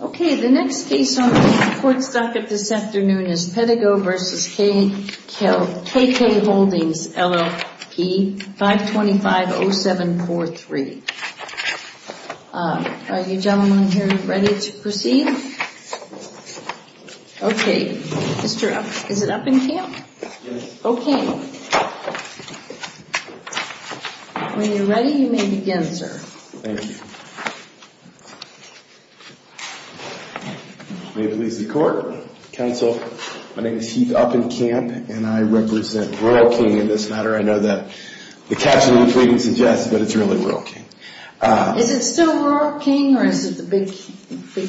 Okay, the next case on the support stocket this afternoon is Pedigo v. KK Holdings, LLP, 525-0743. Are you gentlemen here ready to proceed? Okay, is it up in camp? Yes. Okay. When you're ready, you may begin, sir. Thank you. May it please the court, counsel, my name is Heath Uppenkamp and I represent Rural King in this matter. I know that the caption of the plea didn't suggest it, but it's really Rural King. Is it still Rural King or is it the Big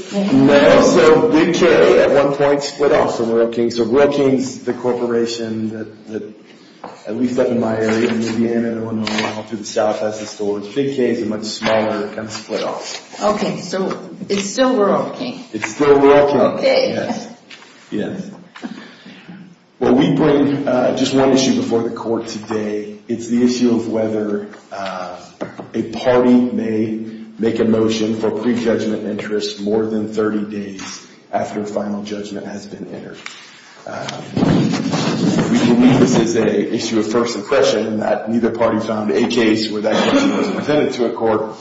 K? No, so Big K at one point split off from Rural King. So Rural King's the corporation that, at least up in my area, in Indiana and a little while to the south has the stores. Big K is a much smaller kind of split off. Okay, so it's still Rural King. It's still Rural King, yes. Well, we bring just one issue before the court today. It's the issue of whether a party may make a motion for prejudgment interest more than 30 days after a final judgment has been entered. We believe this is an issue of first impression, that neither party found a case where that question was presented to a court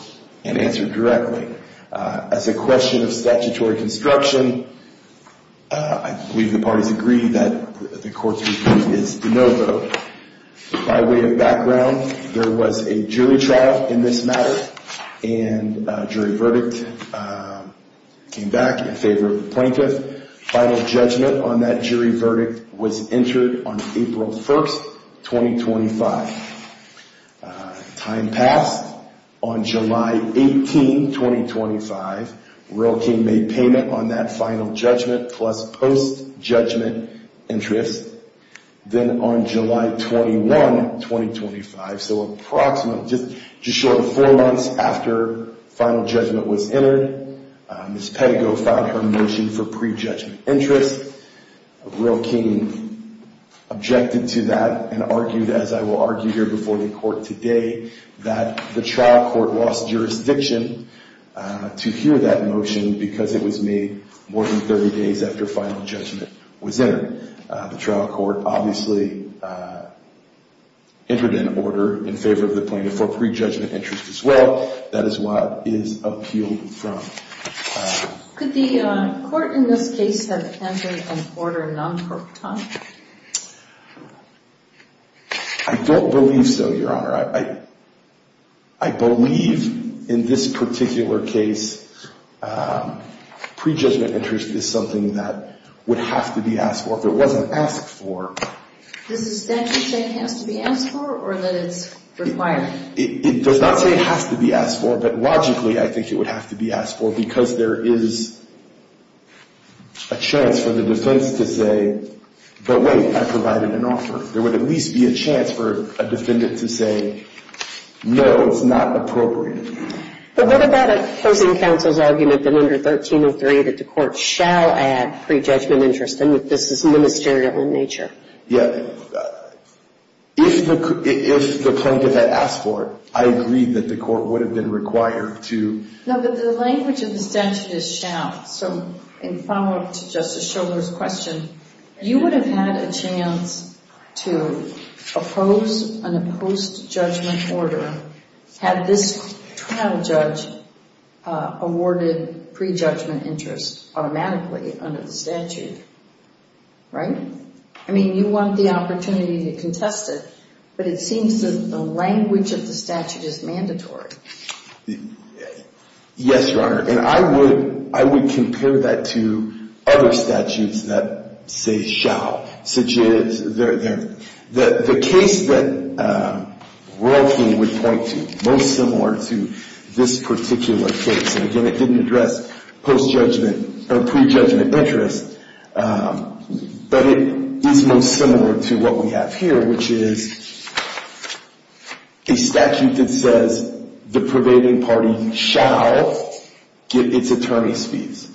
and answered directly. As a question of statutory construction, I believe the parties agree that the court's review is de novo. By way of background, there was a jury trial in this matter, and a jury verdict came back in favor of the plaintiff. Final judgment on that jury verdict was entered on April 1st, 2025. Time passed. On July 18, 2025, Rural King made payment on that final judgment plus post-judgment interest. Then on July 21, 2025, so approximately just short of four months after final judgment was entered, Ms. Pettigo filed her motion for prejudgment interest. Rural King objected to that and argued, as I will argue here before the court today, that the trial court lost jurisdiction to hear that motion because it was made more than 30 days after final judgment was entered. The trial court obviously entered an order in favor of the plaintiff for prejudgment interest as well. That is what is appealed from. Could the court in this case have entered an order in non-court time? I don't believe so, Your Honor. I believe in this particular case prejudgment interest is something that would have to be asked for. If it wasn't asked for. Does the statute say it has to be asked for or that it's required? It does not say it has to be asked for, but logically I think it would have to be asked for because there is a chance for the defense to say, but wait, I provided an offer. There would at least be a chance for a defendant to say, no, it's not appropriate. But what about opposing counsel's argument that under 1303 that the court shall add prejudgment interest and that this is ministerial in nature? Yeah. If the plaintiff had asked for it, I agree that the court would have been required to. No, but the language of the statute is shall, so in follow-up to Justice Schiller's question, you would have had a chance to oppose an opposed judgment order had this trial judge awarded prejudgment interest automatically under the statute, right? I mean, you want the opportunity to contest it, but it seems that the language of the statute is mandatory. Yes, Your Honor, and I would compare that to other statutes that say shall. The case that Roe v. King would point to most similar to this particular case, and again, I didn't address post-judgment or prejudgment interest, but it is most similar to what we have here, which is a statute that says the pervading party shall get its attorney's fees.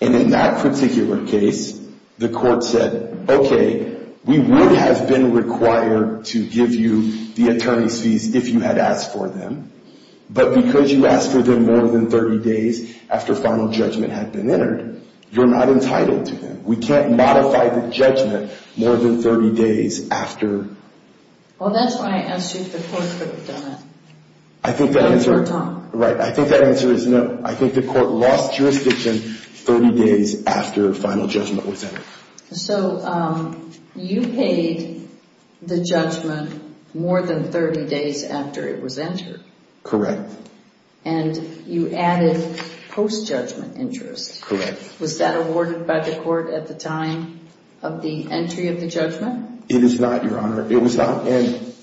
And in that particular case, the court said, okay, we would have been required to give you the attorney's fees if you had asked for them. But because you asked for them more than 30 days after final judgment had been entered, you're not entitled to them. We can't modify the judgment more than 30 days after. Well, that's why I asked you if the court could have done that. I think the answer is no. I think the court lost jurisdiction 30 days after final judgment was entered. So you paid the judgment more than 30 days after it was entered. Correct. And you added post-judgment interest. Correct. Was that awarded by the court at the time of the entry of the judgment? It is not, Your Honor. It was not. And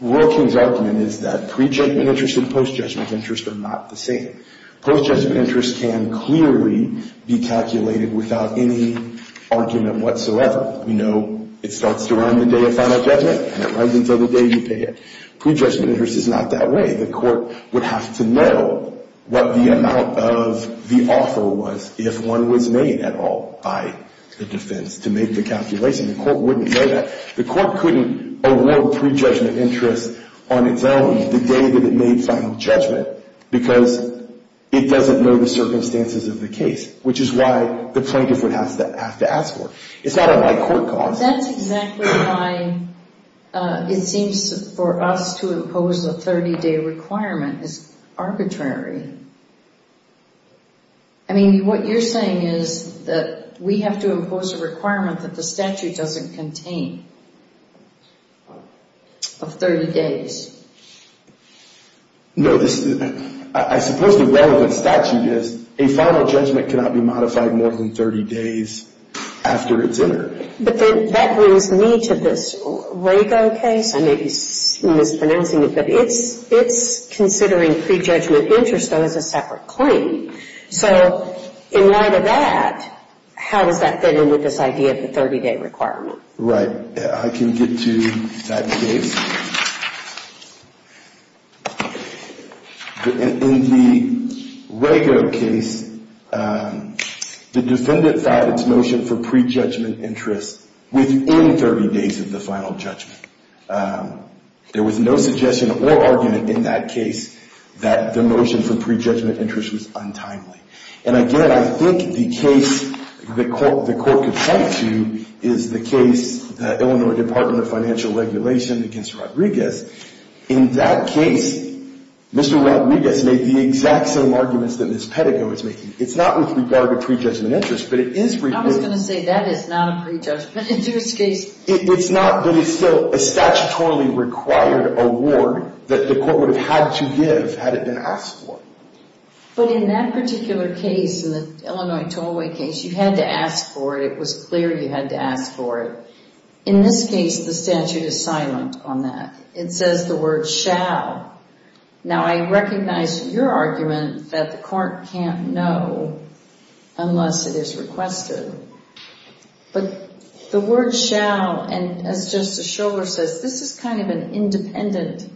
Roe v. King's argument is that prejudgment interest and post-judgment interest are not the same. Post-judgment interest can clearly be calculated without any argument whatsoever. We know it starts to run the day of final judgment, and it runs until the day you pay it. Prejudgment interest is not that way. The court would have to know what the amount of the offer was if one was made at all by the defense to make the calculation. The court wouldn't know that. The court couldn't award prejudgment interest on its own the day that it made final judgment because it doesn't know the circumstances of the case, which is why the plaintiff would have to ask for it. It's not a light court cause. That's exactly why it seems for us to impose a 30-day requirement is arbitrary. I mean, what you're saying is that we have to impose a requirement that the statute doesn't contain of 30 days. No. I suppose the relevant statute is a final judgment cannot be modified more than 30 days after it's entered. But then that brings me to this Rago case. I may be mispronouncing it, but it's considering prejudgment interest, though, as a separate claim. So in light of that, how does that fit in with this idea of the 30-day requirement? Right. I can get to that case. In the Rago case, the defendant filed its motion for prejudgment interest within 30 days of the final judgment. There was no suggestion or argument in that case that the motion for prejudgment interest was untimely. And, again, I think the case the court could point to is the case, the Illinois Department of Financial Regulation against Rodriguez. In that case, Mr. Rodriguez made the exact same arguments that Ms. Pettigrew is making. It's not with regard to prejudgment interest, but it is regarding — I was going to say that is not a prejudgment interest case. It's not, but it's still a statutorily required award that the court would have had to give had it been asked for. But in that particular case, in the Illinois Tollway case, you had to ask for it. It was clear you had to ask for it. In this case, the statute is silent on that. It says the word shall. Now, I recognize your argument that the court can't know unless it is requested. But the word shall, and as Justice Schover says, this is kind of an independent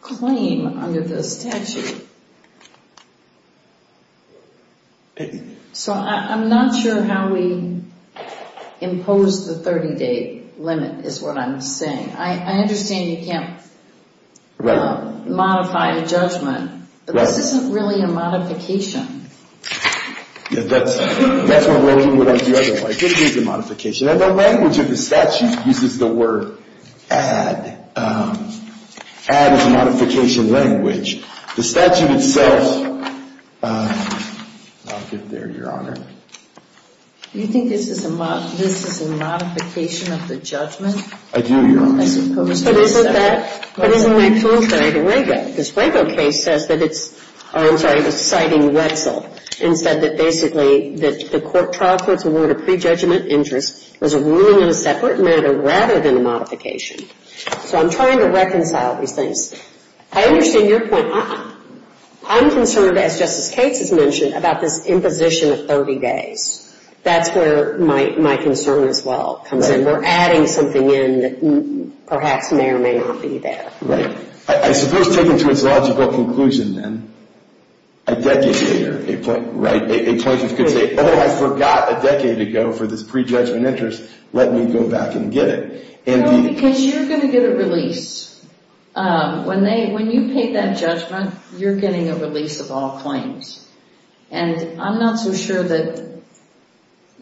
claim under the statute. So I'm not sure how we impose the 30-day limit is what I'm saying. I understand you can't modify the judgment, but this isn't really a modification. Yeah, that's what I would argue otherwise. It is a modification. And the language of the statute uses the word add. Add is a modification language. The statute itself — I'll get there, Your Honor. Do you think this is a modification of the judgment? I do, Your Honor. I suppose so. It is in my contrary to Rago. This Rago case says that it's — oh, I'm sorry, it was citing Wetzel, and said that basically the trial court's award of prejudgment interest was a ruling in a separate matter rather than a modification. So I'm trying to reconcile these things. I understand your point. I'm concerned, as Justice Cates has mentioned, about this imposition of 30 days. That's where my concern as well comes in. And we're adding something in that perhaps may or may not be that. I suppose taken to its logical conclusion, then, a decade later, a plaintiff could say, oh, I forgot a decade ago for this prejudgment interest. Let me go back and get it. No, because you're going to get a release. When you pay that judgment, you're getting a release of all claims. And I'm not so sure that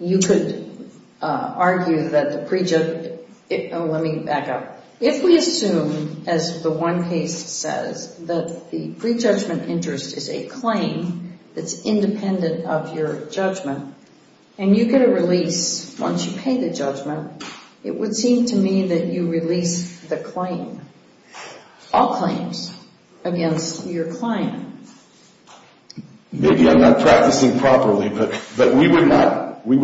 you could argue that the prejudgment — oh, let me back up. If we assume, as the one case says, that the prejudgment interest is a claim that's independent of your judgment, and you get a release once you pay the judgment, it would seem to me that you release the claim, all claims, against your client. Maybe I'm not practicing properly, but we would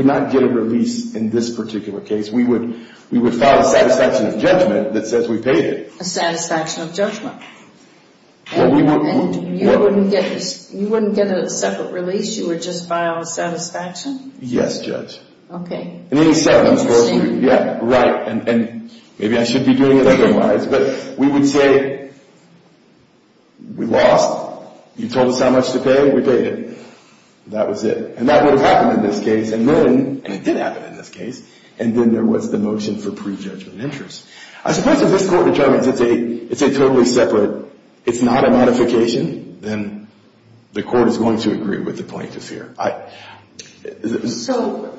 not get a release in this particular case. We would file a satisfaction of judgment that says we paid it. A satisfaction of judgment. And you wouldn't get a separate release? You would just file a satisfaction? Yes, Judge. Okay. Yeah, right. And maybe I should be doing it otherwise. But we would say we lost. You told us how much to pay. We paid it. That was it. And that would have happened in this case. And then — and it did happen in this case. And then there was the motion for prejudgment interest. I suppose if this court determines it's a totally separate — it's not a modification, then the court is going to agree with the plaintiff here. So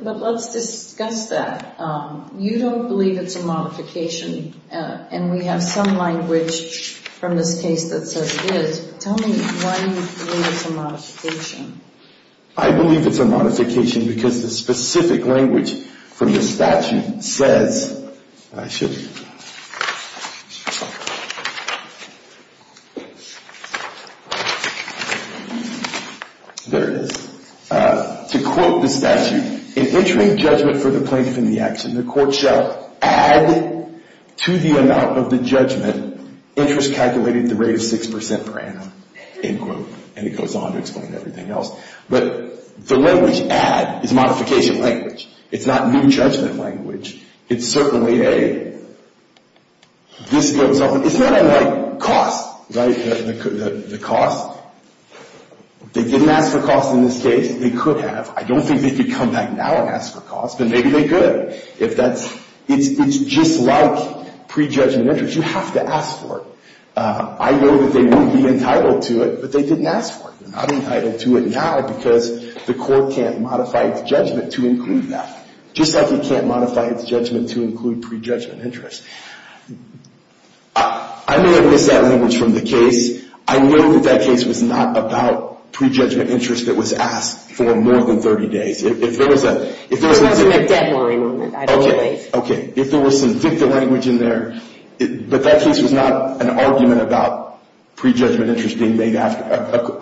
— but let's discuss that. You don't believe it's a modification. And we have some language from this case that says it is. Tell me why you believe it's a modification. I believe it's a modification because the specific language from the statute says — I should — Sorry. There it is. To quote the statute, in entering judgment for the plaintiff in the action, the court shall add to the amount of the judgment interest calculated at the rate of 6 percent per annum, end quote. And it goes on to explain everything else. But the language add is modification language. It's not new judgment language. It's certainly a — this goes on. It's not unlike cost, right, the cost. They didn't ask for cost in this case. They could have. I don't think they could come back now and ask for cost, but maybe they could. If that's — it's just like prejudgment interest. You have to ask for it. I know that they would be entitled to it, but they didn't ask for it. They're not entitled to it now because the court can't modify its judgment to include that. Just like it can't modify its judgment to include prejudgment interest. I may have missed that language from the case. I know that that case was not about prejudgment interest that was asked for more than 30 days. If there was a — There wasn't a deadline on it, I believe. Okay. If there was some dicta language in there, but that case was not an argument about prejudgment interest being made after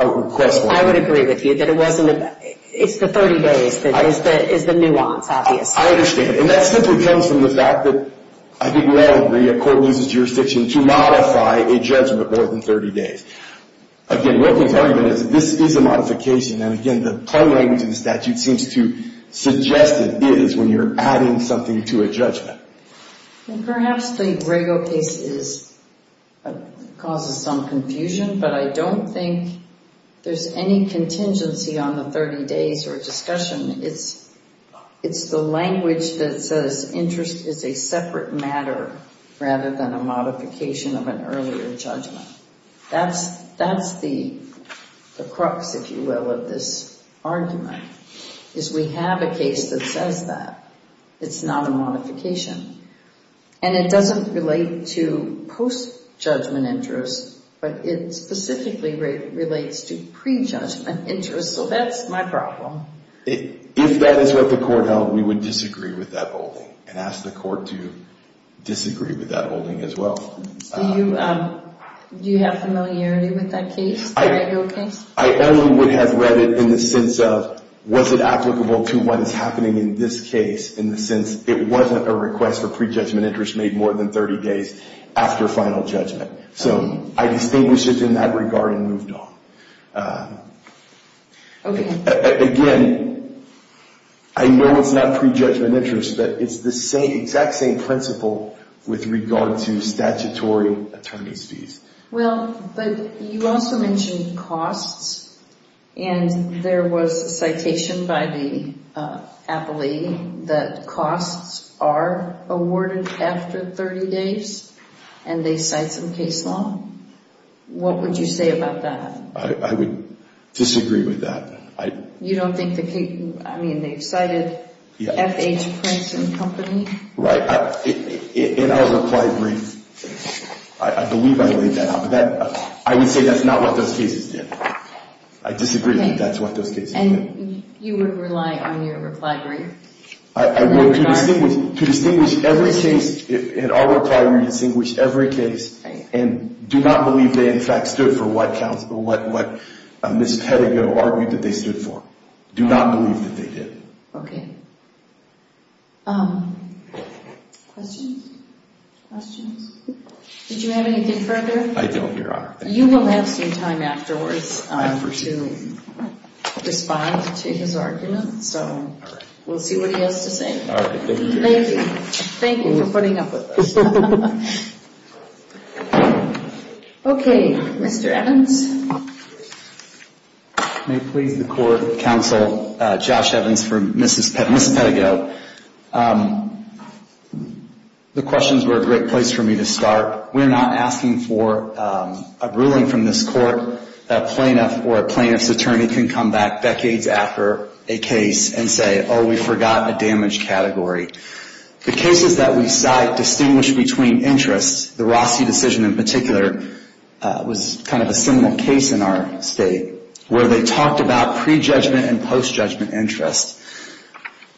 a request. I would agree with you that it wasn't — it's the 30 days that is the nuance. I understand. And that simply comes from the fact that I think we all agree a court loses jurisdiction to modify a judgment more than 30 days. Again, Wilkins' argument is this is a modification. And, again, the tongue language in the statute seems to suggest it is when you're adding something to a judgment. Perhaps the Rago case is — causes some confusion, but I don't think there's any contingency on the 30 days or discussion. It's the language that says interest is a separate matter rather than a modification of an earlier judgment. That's the crux, if you will, of this argument, is we have a case that says that. It's not a modification. And it doesn't relate to post-judgment interest, but it specifically relates to prejudgment interest, so that's my problem. If that is what the court held, we would disagree with that holding and ask the court to disagree with that holding as well. Do you have familiarity with that case, the Rago case? I only would have read it in the sense of was it applicable to what is happening in this case, in the sense it wasn't a request for prejudgment interest made more than 30 days after final judgment. So I distinguished it in that regard and moved on. Okay. Again, I know it's not prejudgment interest, but it's the exact same principle with regard to statutory attorney's fees. Well, but you also mentioned costs, and there was a citation by the appellee that costs are awarded after 30 days, and they cite some case law. What would you say about that? I would disagree with that. You don't think the case – I mean, they've cited FH Prince and Company? Right. In our reply brief, I believe I laid that out, but I would say that's not what those cases did. I disagree that that's what those cases did. And you would rely on your reply brief in that regard? To distinguish every case – in our reply, we distinguish every case and do not believe they, in fact, stood for what Ms. Pettigrew argued that they stood for. Do not believe that they did. Okay. Questions? Questions? Did you have anything further? I don't, Your Honor. You will have some time afterwards to respond to his argument, so we'll see what he has to say. All right. Thank you. Thank you for putting up with us. Okay. Mr. Evans? May it please the Court, Counsel, Josh Evans for Mrs. Pettigrew. The questions were a great place for me to start. We're not asking for a ruling from this Court that a plaintiff or a plaintiff's attorney can come back decades after a case and say, oh, we forgot a damage category. The cases that we cite distinguish between interests. The Rossi decision in particular was kind of a similar case in our state where they talked about pre-judgment and post-judgment interest.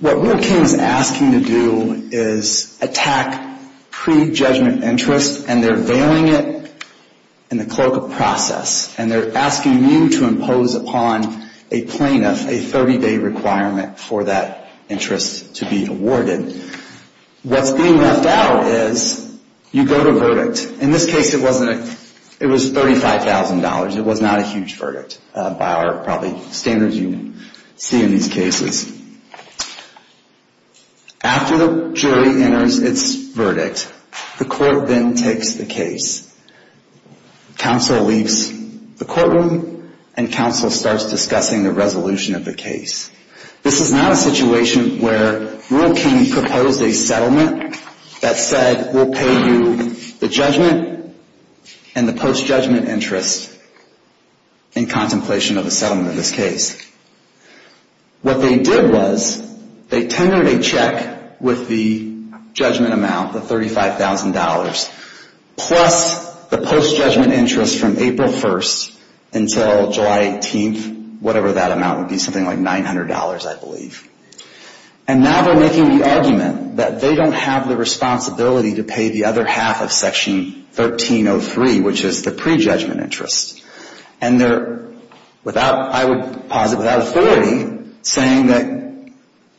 What Wood King is asking to do is attack pre-judgment interest, and they're veiling it in the clerical process, and they're asking you to impose upon a plaintiff a 30-day requirement for that interest to be awarded. What's being left out is you go to verdict. In this case, it was $35,000. It was not a huge verdict by our probably standards you see in these cases. After the jury enters its verdict, the Court then takes the case. Counsel leaves the courtroom, and Counsel starts discussing the resolution of the case. This is not a situation where Wood King proposed a settlement that said we'll pay you the judgment and the post-judgment interest in contemplation of a settlement in this case. What they did was they tendered a check with the judgment amount, the $35,000, plus the post-judgment interest from April 1st until July 18th, whatever that amount would be, something like $900, I believe. And now they're making the argument that they don't have the responsibility to pay the other half of Section 1303, which is the pre-judgment interest. And they're, I would posit, without authority, saying that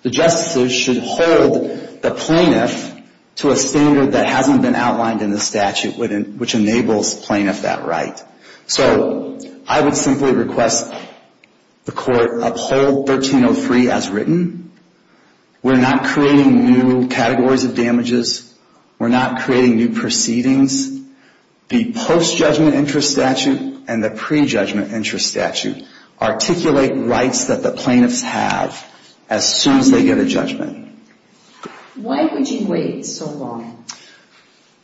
the justices should hold the plaintiff to a standard that hasn't been outlined in the statute, which enables plaintiff that right. So I would simply request the Court uphold 1303 as written. We're not creating new categories of damages. We're not creating new proceedings. The post-judgment interest statute and the pre-judgment interest statute articulate rights that the plaintiffs have as soon as they get a judgment. Why would you wait so long?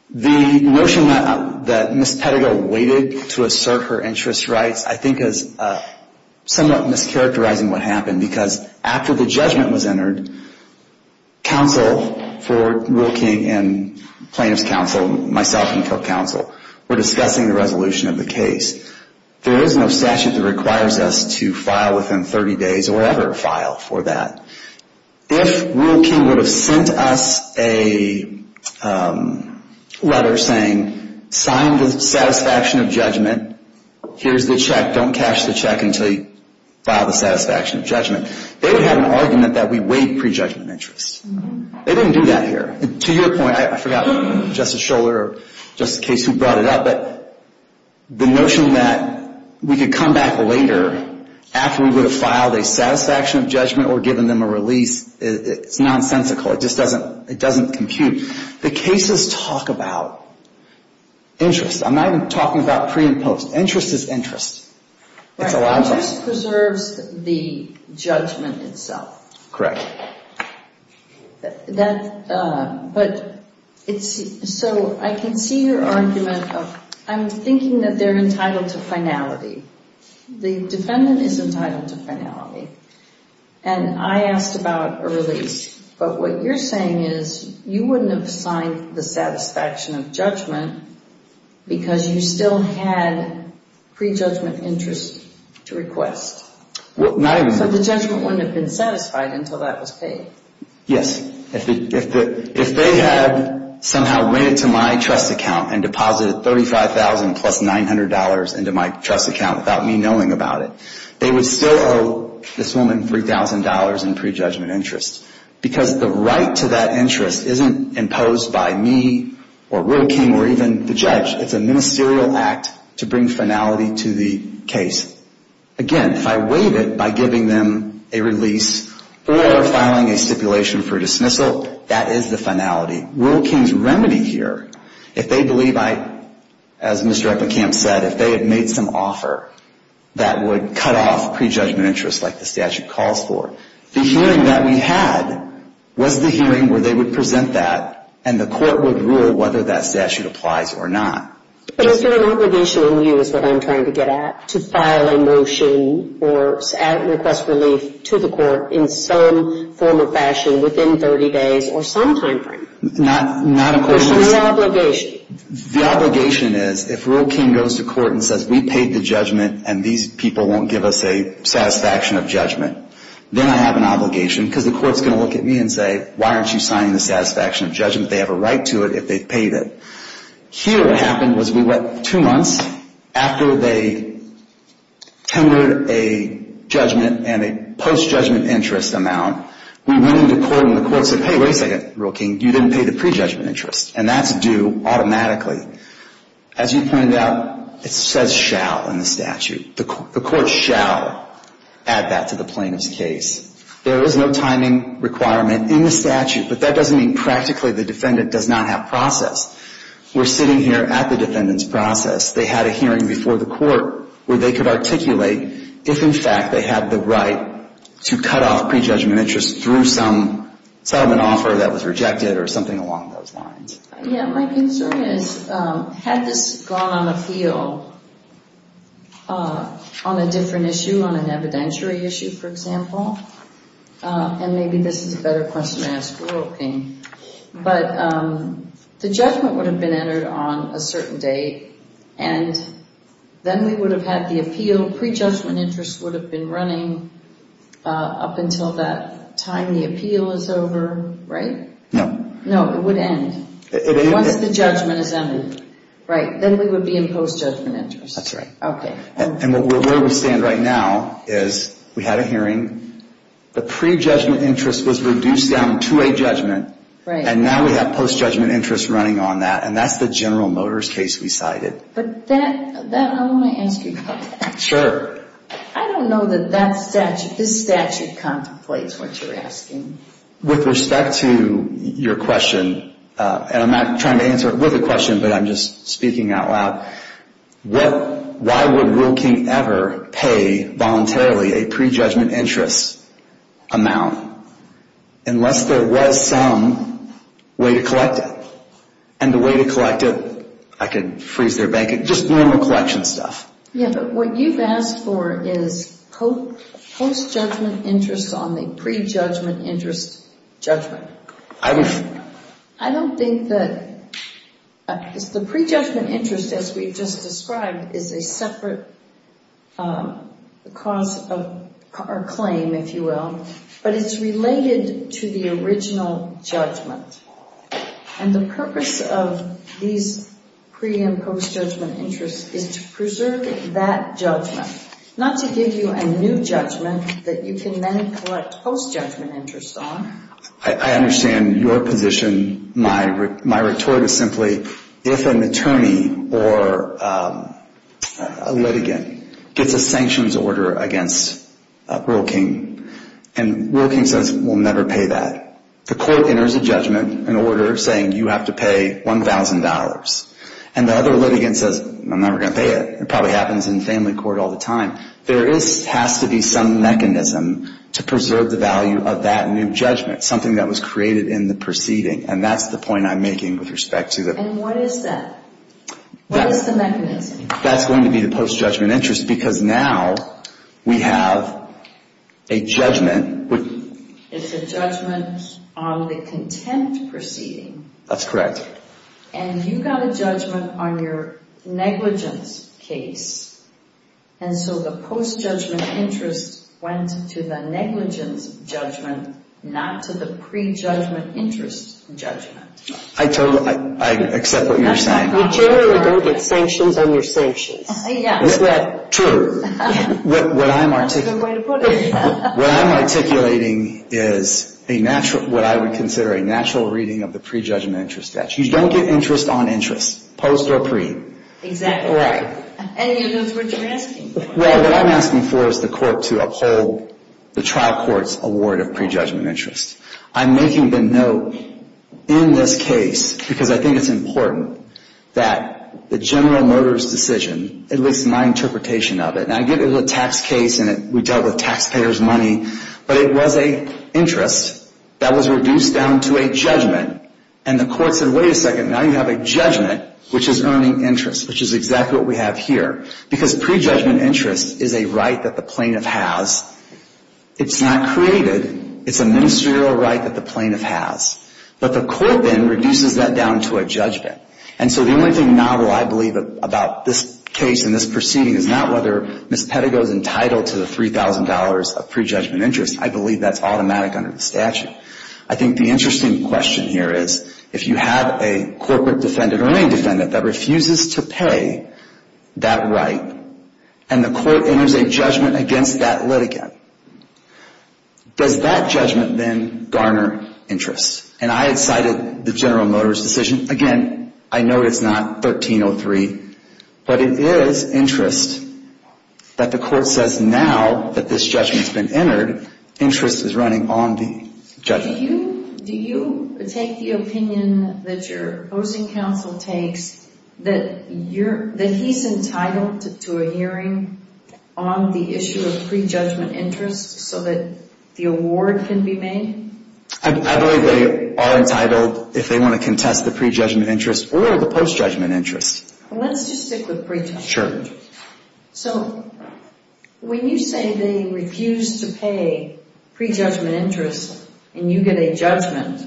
The notion that Ms. Pettigrew waited to assert her interest rights, I think, is somewhat mischaracterizing what happened. Because after the judgment was entered, counsel for Rule King and plaintiff's counsel, myself and co-counsel, were discussing the resolution of the case. There is no statute that requires us to file within 30 days or ever file for that. If Rule King would have sent us a letter saying, sign the satisfaction of judgment, here's the check, don't cash the check until you file the satisfaction of judgment, they would have an argument that we waived pre-judgment interest. They didn't do that here. To your point, I forgot, Justice Scholar or Justice Case, who brought it up, but the notion that we could come back later after we would have filed a satisfaction of judgment or given them a release, it's nonsensical. It just doesn't compute. The cases talk about interest. I'm not even talking about pre and post. Interest is interest. Interest preserves the judgment itself. So I can see your argument of, I'm thinking that they're entitled to finality. The defendant is entitled to finality. And I asked about a release, but what you're saying is, you wouldn't have signed the satisfaction of judgment because you still had pre-judgment interest to request. So the judgment wouldn't have been satisfied until that was paid. Yes. If they had somehow went into my trust account and deposited $35,000 plus $900 into my trust account without me knowing about it, they would still owe pre-judgment interest. They would still owe this woman $3,000 in pre-judgment interest. Because the right to that interest isn't imposed by me or Rural King or even the judge. It's a ministerial act to bring finality to the case. Again, if I waive it by giving them a release or filing a stipulation for dismissal, that is the finality. Rural King's remedy here, if they believe I, as Mr. Eppenkamp said, if they had made some offer that would cut off pre-judgment interest like the statute calls for, the hearing that we had was the hearing where they would present that and the court would rule whether that statute applies or not. But it's an obligation on you is what I'm trying to get at, to file a motion or request relief to the court in some form or fashion within 30 days or some time frame. The obligation is if Rural King goes to court and says we paid the judgment and these people won't give us a satisfaction of judgment, then I have an obligation. Because the court's going to look at me and say, why aren't you signing the satisfaction of judgment? They have a right to it if they've paid it. Here what happened was we went two months after they tendered a judgment and a post-judgment interest amount. We went into court and the court said, hey, wait a second, Rural King, you didn't pay the pre-judgment interest. And that's due automatically. As you pointed out, it says shall in the statute. The court shall add that to the plaintiff's case. There is no timing requirement in the statute, but that doesn't mean practically the defendant does not have process. We're sitting here at the defendant's process. They had a hearing before the court where they could articulate if, in fact, they had the right to cut off pre-judgment interest through some settlement offer that was rejected or something along those lines. Yeah, my concern is had this gone on appeal on a different issue, on an evidentiary issue, for example, and maybe this is a better question to ask Rural King. But the judgment would have been entered on a certain date, and then we would have had the appeal. Pre-judgment interest would have been running up until that time the appeal is over, right? No. No, it would end once the judgment is ended, right? Then we would be in post-judgment interest. That's right. Okay. And where we stand right now is we had a hearing. The pre-judgment interest was reduced down to a judgment. Right. And now we have post-judgment interest running on that. And that's the General Motors case we cited. But I want to ask you about that. Sure. I don't know that this statute contemplates what you're asking. With respect to your question, and I'm not trying to answer it with a question, but I'm just speaking out loud. Why would Rural King ever pay voluntarily a pre-judgment interest amount unless there was some way to collect it? And the way to collect it, I could freeze their bank account. Just normal collection stuff. Yeah, but what you've asked for is post-judgment interest on the pre-judgment interest judgment. I don't think that the pre-judgment interest, as we've just described, is a separate cause or claim, if you will. But it's related to the original judgment. And the purpose of these pre- and post-judgment interests is to preserve that judgment. Not to give you a new judgment that you can then collect post-judgment interest on. I understand your position. My retort is simply, if an attorney or a litigant gets a sanctions order against Rural King, and Rural King says we'll never pay that, the court enters a judgment, an order saying you have to pay $1,000. And the other litigant says, I'm never going to pay it. It probably happens in family court all the time. There has to be some mechanism to preserve the value of that new judgment. Something that was created in the proceeding. And that's the point I'm making with respect to the... And what is that? What is the mechanism? That's going to be the post-judgment interest because now we have a judgment It's a judgment on the contempt proceeding. That's correct. And you got a judgment on your negligence case. And so the post-judgment interest went to the negligence judgment not to the pre-judgment interest judgment. I totally accept what you're saying. You generally don't get sanctions on your sanctions. Is that true? What I'm articulating is what I would consider a natural reading of the pre-judgment interest statute. You don't get interest on interest. Post or pre. Exactly right. And that's what you're asking for. Well, what I'm asking for is the court to uphold the trial court's award of pre-judgment interest. I'm making the note in this case because I think it's important that the general motorist decision at least my interpretation of it, and I give it a tax case and we dealt with taxpayers' money, but it was an interest that was reduced down to a judgment. And the court said, wait a second, now you have a judgment which is earning interest, which is exactly what we have here. Because pre-judgment interest is a right that the plaintiff has. It's not created. It's a ministerial right that the plaintiff has. But the court then reduces that down to a judgment. And so the only thing novel I believe about this case and this proceeding is not whether Ms. Pedigo is entitled to the $3,000 of pre-judgment interest. I believe that's automatic under the statute. I think the interesting question here is if you have a corporate defendant or any defendant that refuses to pay that right, and the court enters a judgment against that litigant, does that judgment then garner interest? And I had cited the general motorist decision. Again, I know it's not 1303, but it is interest that the court says now that this judgment has been entered, interest is running on the judgment. Do you take the opinion that your opposing counsel takes that he's entitled to a hearing on the issue of pre-judgment interest so that the award can be made? I believe they are entitled if they want to contest the pre-judgment interest or the post-judgment interest. Let's just stick with pre-judgment interest. Sure. When you say they refuse to pay pre-judgment interest and you get a judgment,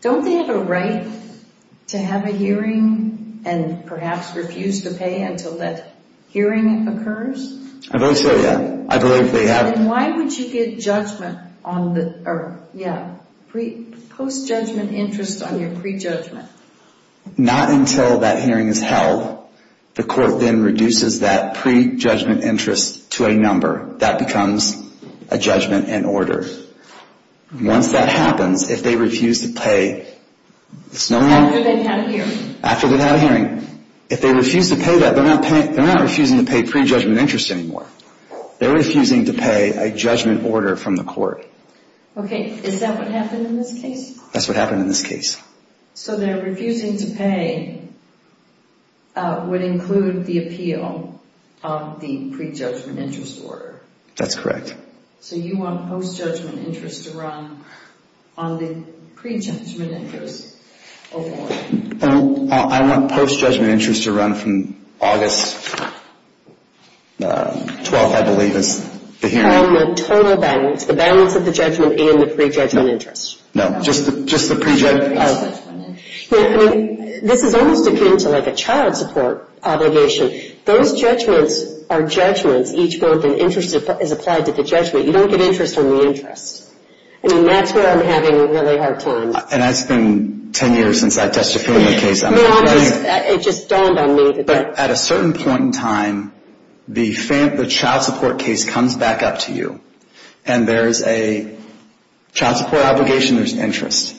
don't they have a right to have a hearing and perhaps refuse to pay until that hearing occurs? I believe so, yeah. I believe they have. Then why would you get judgment on the, yeah, post-judgment interest on your pre-judgment? Not until that hearing is held. The court then reduces that pre-judgment interest to a number. That becomes a judgment in order. Once that happens, if they refuse to pay, after they've had a hearing, if they refuse to pay that, they're not refusing to pay pre-judgment interest anymore. They're refusing to pay a judgment order from the court. Okay. Is that what happened in this case? That's what happened in this case. So their refusing to pay would include the appeal of the pre-judgment interest order. That's correct. So you want post-judgment interest to run on the pre-judgment interest award. I want post-judgment interest to run from August 12th, I believe, is the hearing. On the total balance, the balance of the judgment and the pre-judgment interest. No, just the pre-judgment. This is almost akin to like a child support obligation. Those judgments are judgments. Each one of them is applied to the judgment. You don't get interest on the interest. I mean, that's where I'm having a really hard time. And that's been 10 years since I testified in the case. No, it just dawned on me. But at a certain point in time, the child support case comes back up to you and there's a child support obligation, there's interest.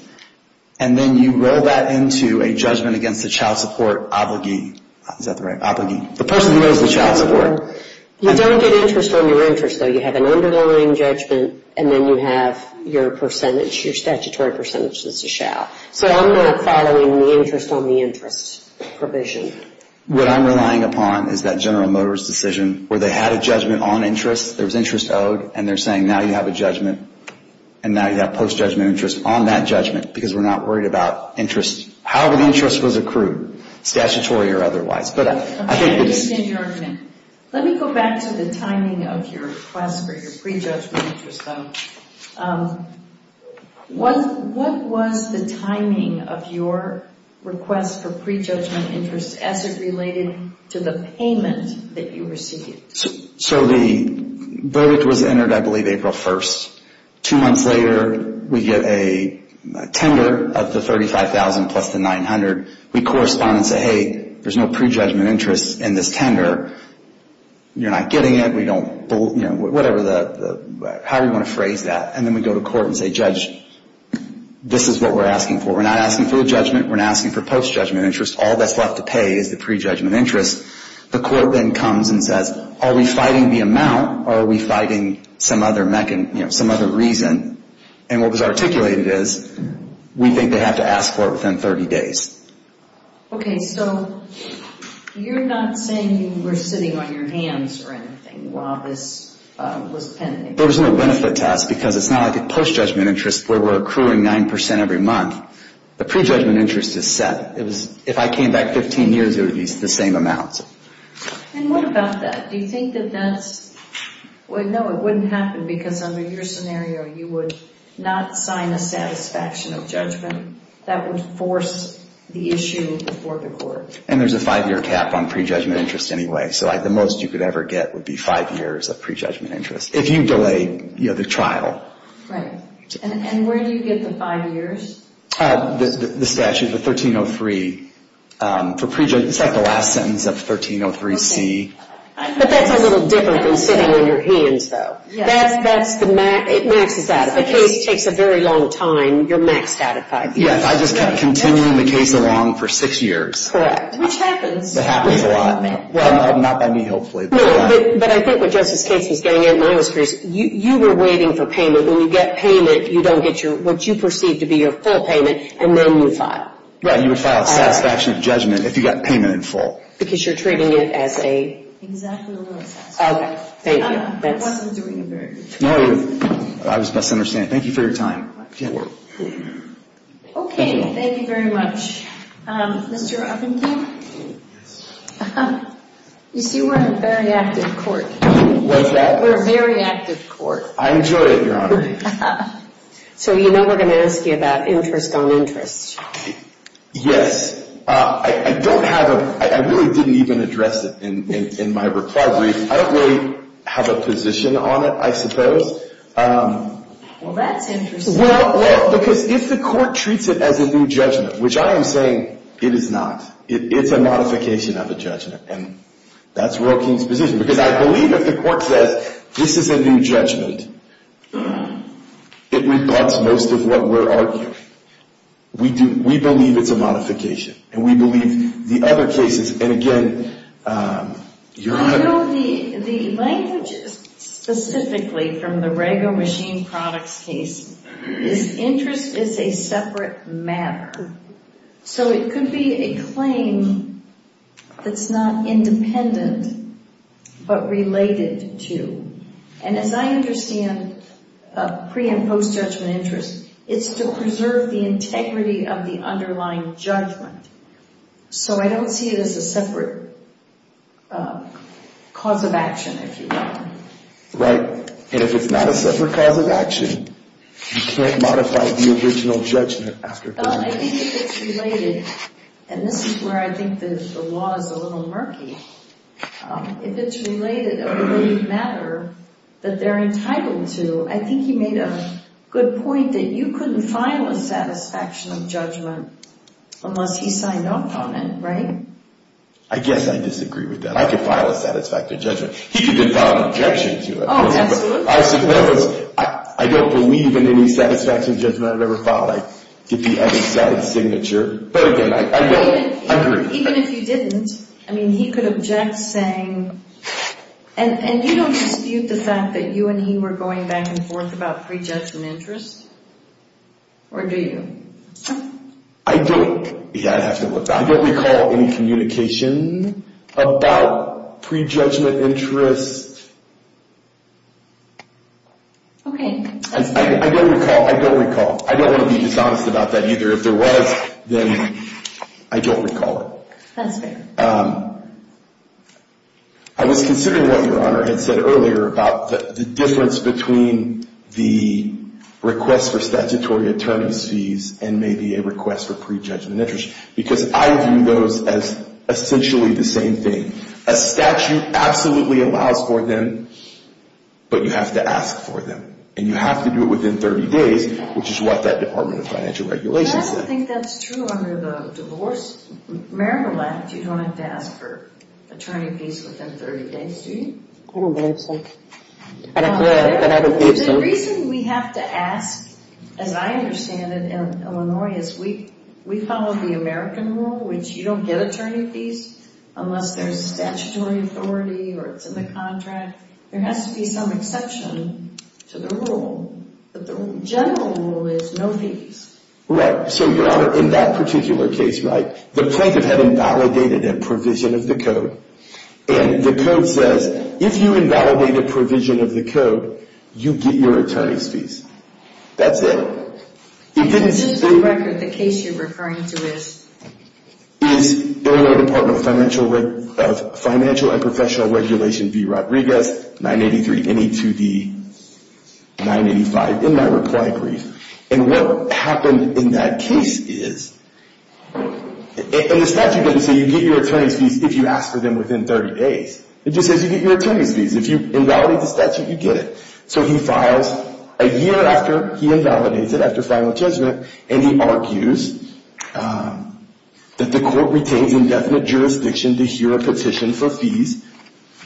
And then you roll that into a judgment against the child support obligee. Is that the right? Obligee. The person who owes the child support. You don't get interest on your interest, though. You have an underlying judgment and then you have your percentage, your statutory percentage that's a shall. So I'm more following the interest on the interest provision. What I'm relying upon is that General Motors decision where they had a judgment on interest, there was interest owed, and they're saying now you have a judgment and now you have post-judgment interest on that judgment because we're not worried about interest however the interest was accrued, statutory or otherwise. Let me go back to the timing of your request for your pre-judgment interest, though. What was the timing of your request for pre-judgment interest as it related to the payment that you received? So the verdict was entered, I believe, April 1st. Two months later, we get a tender of the $35,000 plus the $900,000. We correspond and say, hey, there's no pre-judgment interest in this tender. You're not getting it. We don't, you know, whatever the however you want to phrase that. And then we go to court and say, judge, this is what we're asking for. We're not asking for the judgment. We're not asking for post-judgment interest. All that's left to pay is the pre-judgment interest. The court then comes and says, are we fighting the amount or are we fighting some other reason? And what was articulated is, we think they have to ask for it within 30 days. Okay, so you're not saying you were sitting on your hands or anything while this was pending? There was no benefit to us because it's not like post-judgment interest where we're accruing 9% every month. The pre-judgment interest is set. If I came back 15 years, it would be the same amounts. And what about that? Do you think that that's well, no, it wouldn't happen because under your scenario, you would not sign a satisfaction of judgment that would force the issue before the court. And there's a five-year cap on pre-judgment interest anyway. So the most you could ever get would be five years of pre-judgment interest if you delay the trial. Right. And where do you get the five years? The statute, the 1303. It's like the last sentence of 1303C. But that's a little different than sitting on your hands though. It maxes out. If the case takes a very long time, you're maxed out at five years. Yes, I just kept continuing the case along for six years. Correct. Which happens. That happens a lot. Not by me, hopefully. But I think what Justice Katzen is getting at in my experience, you were waiting for payment. When you get payment, you don't get what you perceive to be your full payment, and then you file. You would file a satisfaction of judgment if you got payment in full. Because you're treating it as a... Exactly what I said. I wasn't doing a very good job. I was misunderstanding. Thank you for your time. Okay, thank you very much. Mr. Upington? You see, we're a very active court. What's that? We're a very active court. I enjoy it, Your Honor. So you know we're going to ask you about interest on interest. Yes. I don't have a... I really didn't even address it in my reply brief. I don't really have a position on it, I suppose. Well, that's interesting. Well, because if the court treats it as a new judgment, which I am saying it is not. It's a modification of a judgment, and that's Royal King's position. Because I believe if the court says, this is a new judgment, it rebuts most of what we're arguing. We believe it's a modification, and we believe the other cases, and again, Your Honor... I know the language specifically from the Rego Machine Products case, is interest is a separate matter. So it could be a claim that's not independent, but related to. And as I understand pre- and post-judgment interest, it's to preserve the integrity of the underlying judgment. So I don't see it as a separate cause of action, if you will. Right. And if it's not a separate cause of action, you can't modify the original judgment after... Well, I think if it's related, and this is where I think the law is a little murky, if it's related, a related matter that they're entitled to, I think he made a good point that you couldn't file a satisfaction of judgment unless he signed off on it, right? I guess I disagree with that. I could file a satisfaction of judgment. He could file an objection to it. Oh, absolutely. I don't believe in any satisfaction of judgment I've ever filed. I get the other side's signature. But again, I agree. Even if you didn't, I mean, he could object saying... And you don't dispute the fact that you and he were going back and forth about pre-judgment interest? Or do you? I don't. Yeah, I'd have to look that up. I don't recall any communication about pre-judgment interest. Okay, that's fair. I don't recall. I don't want to be dishonest about that either. If there was, then I don't recall it. That's fair. I was considering what Your Honor had said earlier about the difference between the request for statutory attorneys fees and maybe a request for pre-judgment interest, because I view those as essentially the same thing. A statute absolutely allows for them, but you have to ask for them. And you have to do it within 30 days, which is what that Department of Financial Regulations says. I think that's true under the divorce marital act. You don't have to ask for attorney fees within 30 days, do you? I don't believe so. I don't believe so. The reason we have to ask, as I understand it in Illinois, is we follow the American rule, which you don't get attorney fees unless there's statutory authority or it's in the contract. There has to be some exception to the rule, but the general rule is no fees. Right, so Your Honor, in that particular case, right, the plaintiff had invalidated a provision of the code and the code says, if you invalidate a provision of the code, you get your attorney's fees. That's it. In this record, the case you're referring to is Illinois Department of Financial and Professional Regulations v. Rodriguez, 983 NE2D 985, in my reply brief. And what happened in that case is, and the statute doesn't say you get your attorney's fees if you ask for them within 30 days. It just says you get your attorney's fees. If you invalidate the statute, you get it. So he files a year after he invalidates it, after final judgment, and he argues that the court retains indefinite jurisdiction to hear a petition for fees.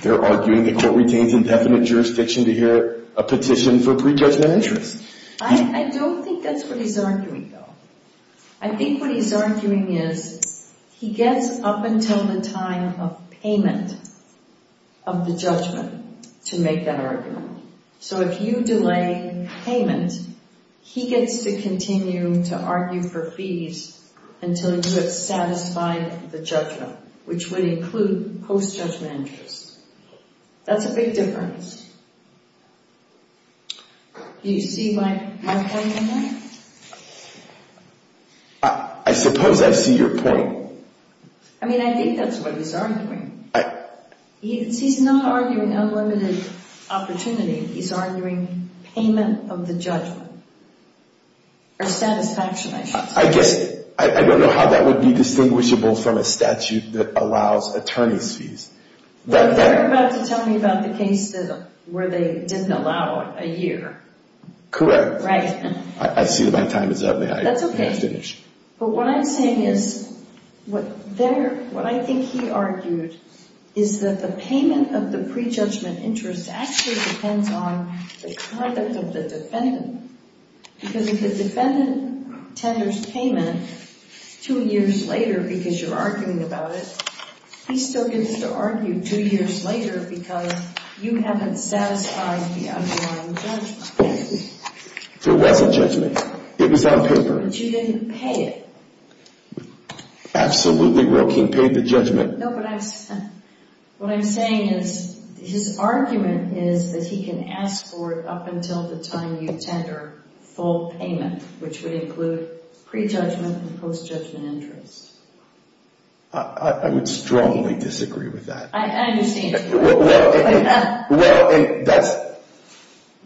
They're arguing the court retains indefinite jurisdiction to hear a petition for prejudgment interest. I don't think that's what he's arguing, though. I think what he's arguing is, he gets up until the time of payment of the judgment to make that argument. So if you delay payment, he gets to continue to argue for fees until you have satisfied the judgment, which would include post-judgment interest. That's a big difference. Do you see my point in that? I suppose I see your point. I mean, I think that's what he's arguing. He's not arguing unlimited opportunity. He's arguing payment of the judgment or satisfaction. I don't know how that would be distinguishable from a statute that allows attorney's fees. But they're about to tell me about the case where they didn't allow a year. Correct. I see my time is up. May I finish? That's okay. But what I'm saying is, what I think he argued is that the payment of the prejudgment interest actually depends on the conduct of the defendant. Because if the defendant tenders payment two years later because you're arguing about it, he still gets to argue two years later because you haven't satisfied the underlying judgment. There was a judgment. It was on paper. But you didn't pay it. Absolutely. No, but what I'm saying is his argument is that he can ask for it up until the time you tender full payment, which would include pre-judgment and post-judgment interest. I would strongly disagree with that. I understand.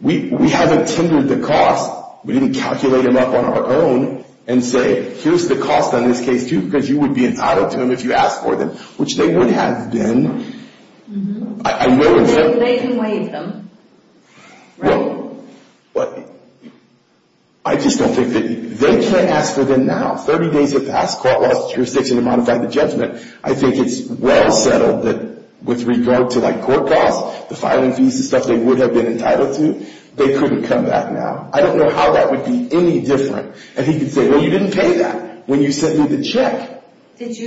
We haven't tendered the cost. We didn't calculate them up on our own and say, here's the cost on this case, too, because you would be entitled to them if you asked for them, which they would have been. They can waive them. Well, I just don't think that they can't ask for them now. 30 days have passed. Court lost jurisdiction to modify the judgment. I think it's well settled that with regard to court costs, the filing fees, the stuff they would have been entitled to, they couldn't come back now. I don't know how that would be any different. And he could say, well, you didn't pay that when you sent me the check. Is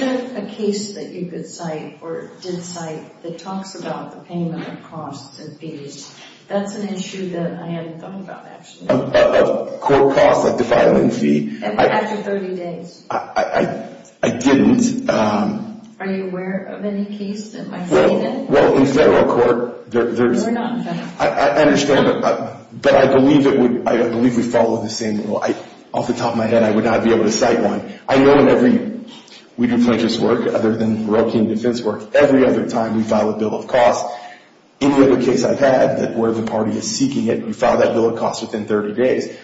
there a case that you could cite or did cite that talks about the payment of costs and fees? That's an issue that I hadn't thought about, actually. Of court costs, like the filing fee? After 30 days. I didn't. Are you aware of any case that might say that? Well, in federal court, there's... We're not in federal court. I understand, but I believe it would... I believe we follow the same rule. Off the top of my head, I would not be able to cite one. I know in every... We do pledger's work, other than Roe King defense work. Every other time we file a bill of costs. Any other case I've had where the party is seeking it, you file that bill of costs within 30 days.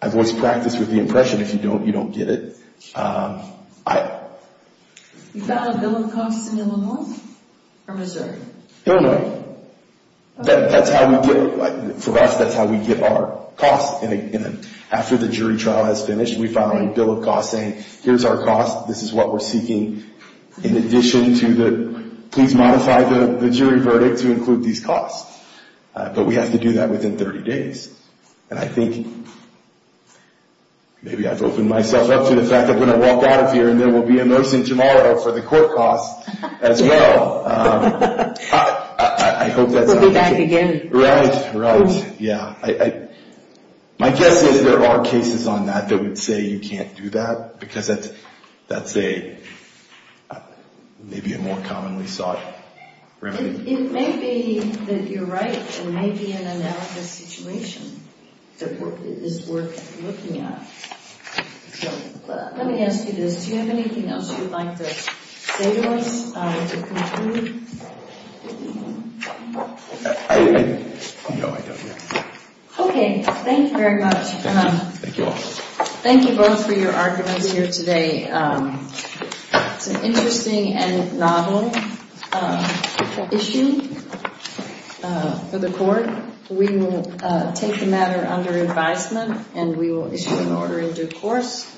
I've always practiced with the impression if you don't, you don't get it. You file a bill of costs in Illinois or Missouri? Illinois. That's how we get... For us, that's how we get our costs. After the jury trial has finished, we file a bill of costs saying, here's our costs. This is what we're seeking in addition to the... Please modify the jury verdict to include these costs. But we have to do that within 30 days. And I think maybe I've opened myself up to the fact that when I walk out of here, and there will be a nursing tomorrow for the court costs as well. We'll be back again. My guess is there are cases on that that would say you can't do that. Because that's a maybe a more commonly sought remedy. It may be that you're right. It may be an analysis situation that is worth looking at. Let me ask you this. Do you have anything else you'd like to say to us to conclude? Okay. Thank you very much. Thank you all. Thank you both for your arguments here today. It's an interesting and novel issue for the court. We will take the matter under advisement and we will issue an order in due course.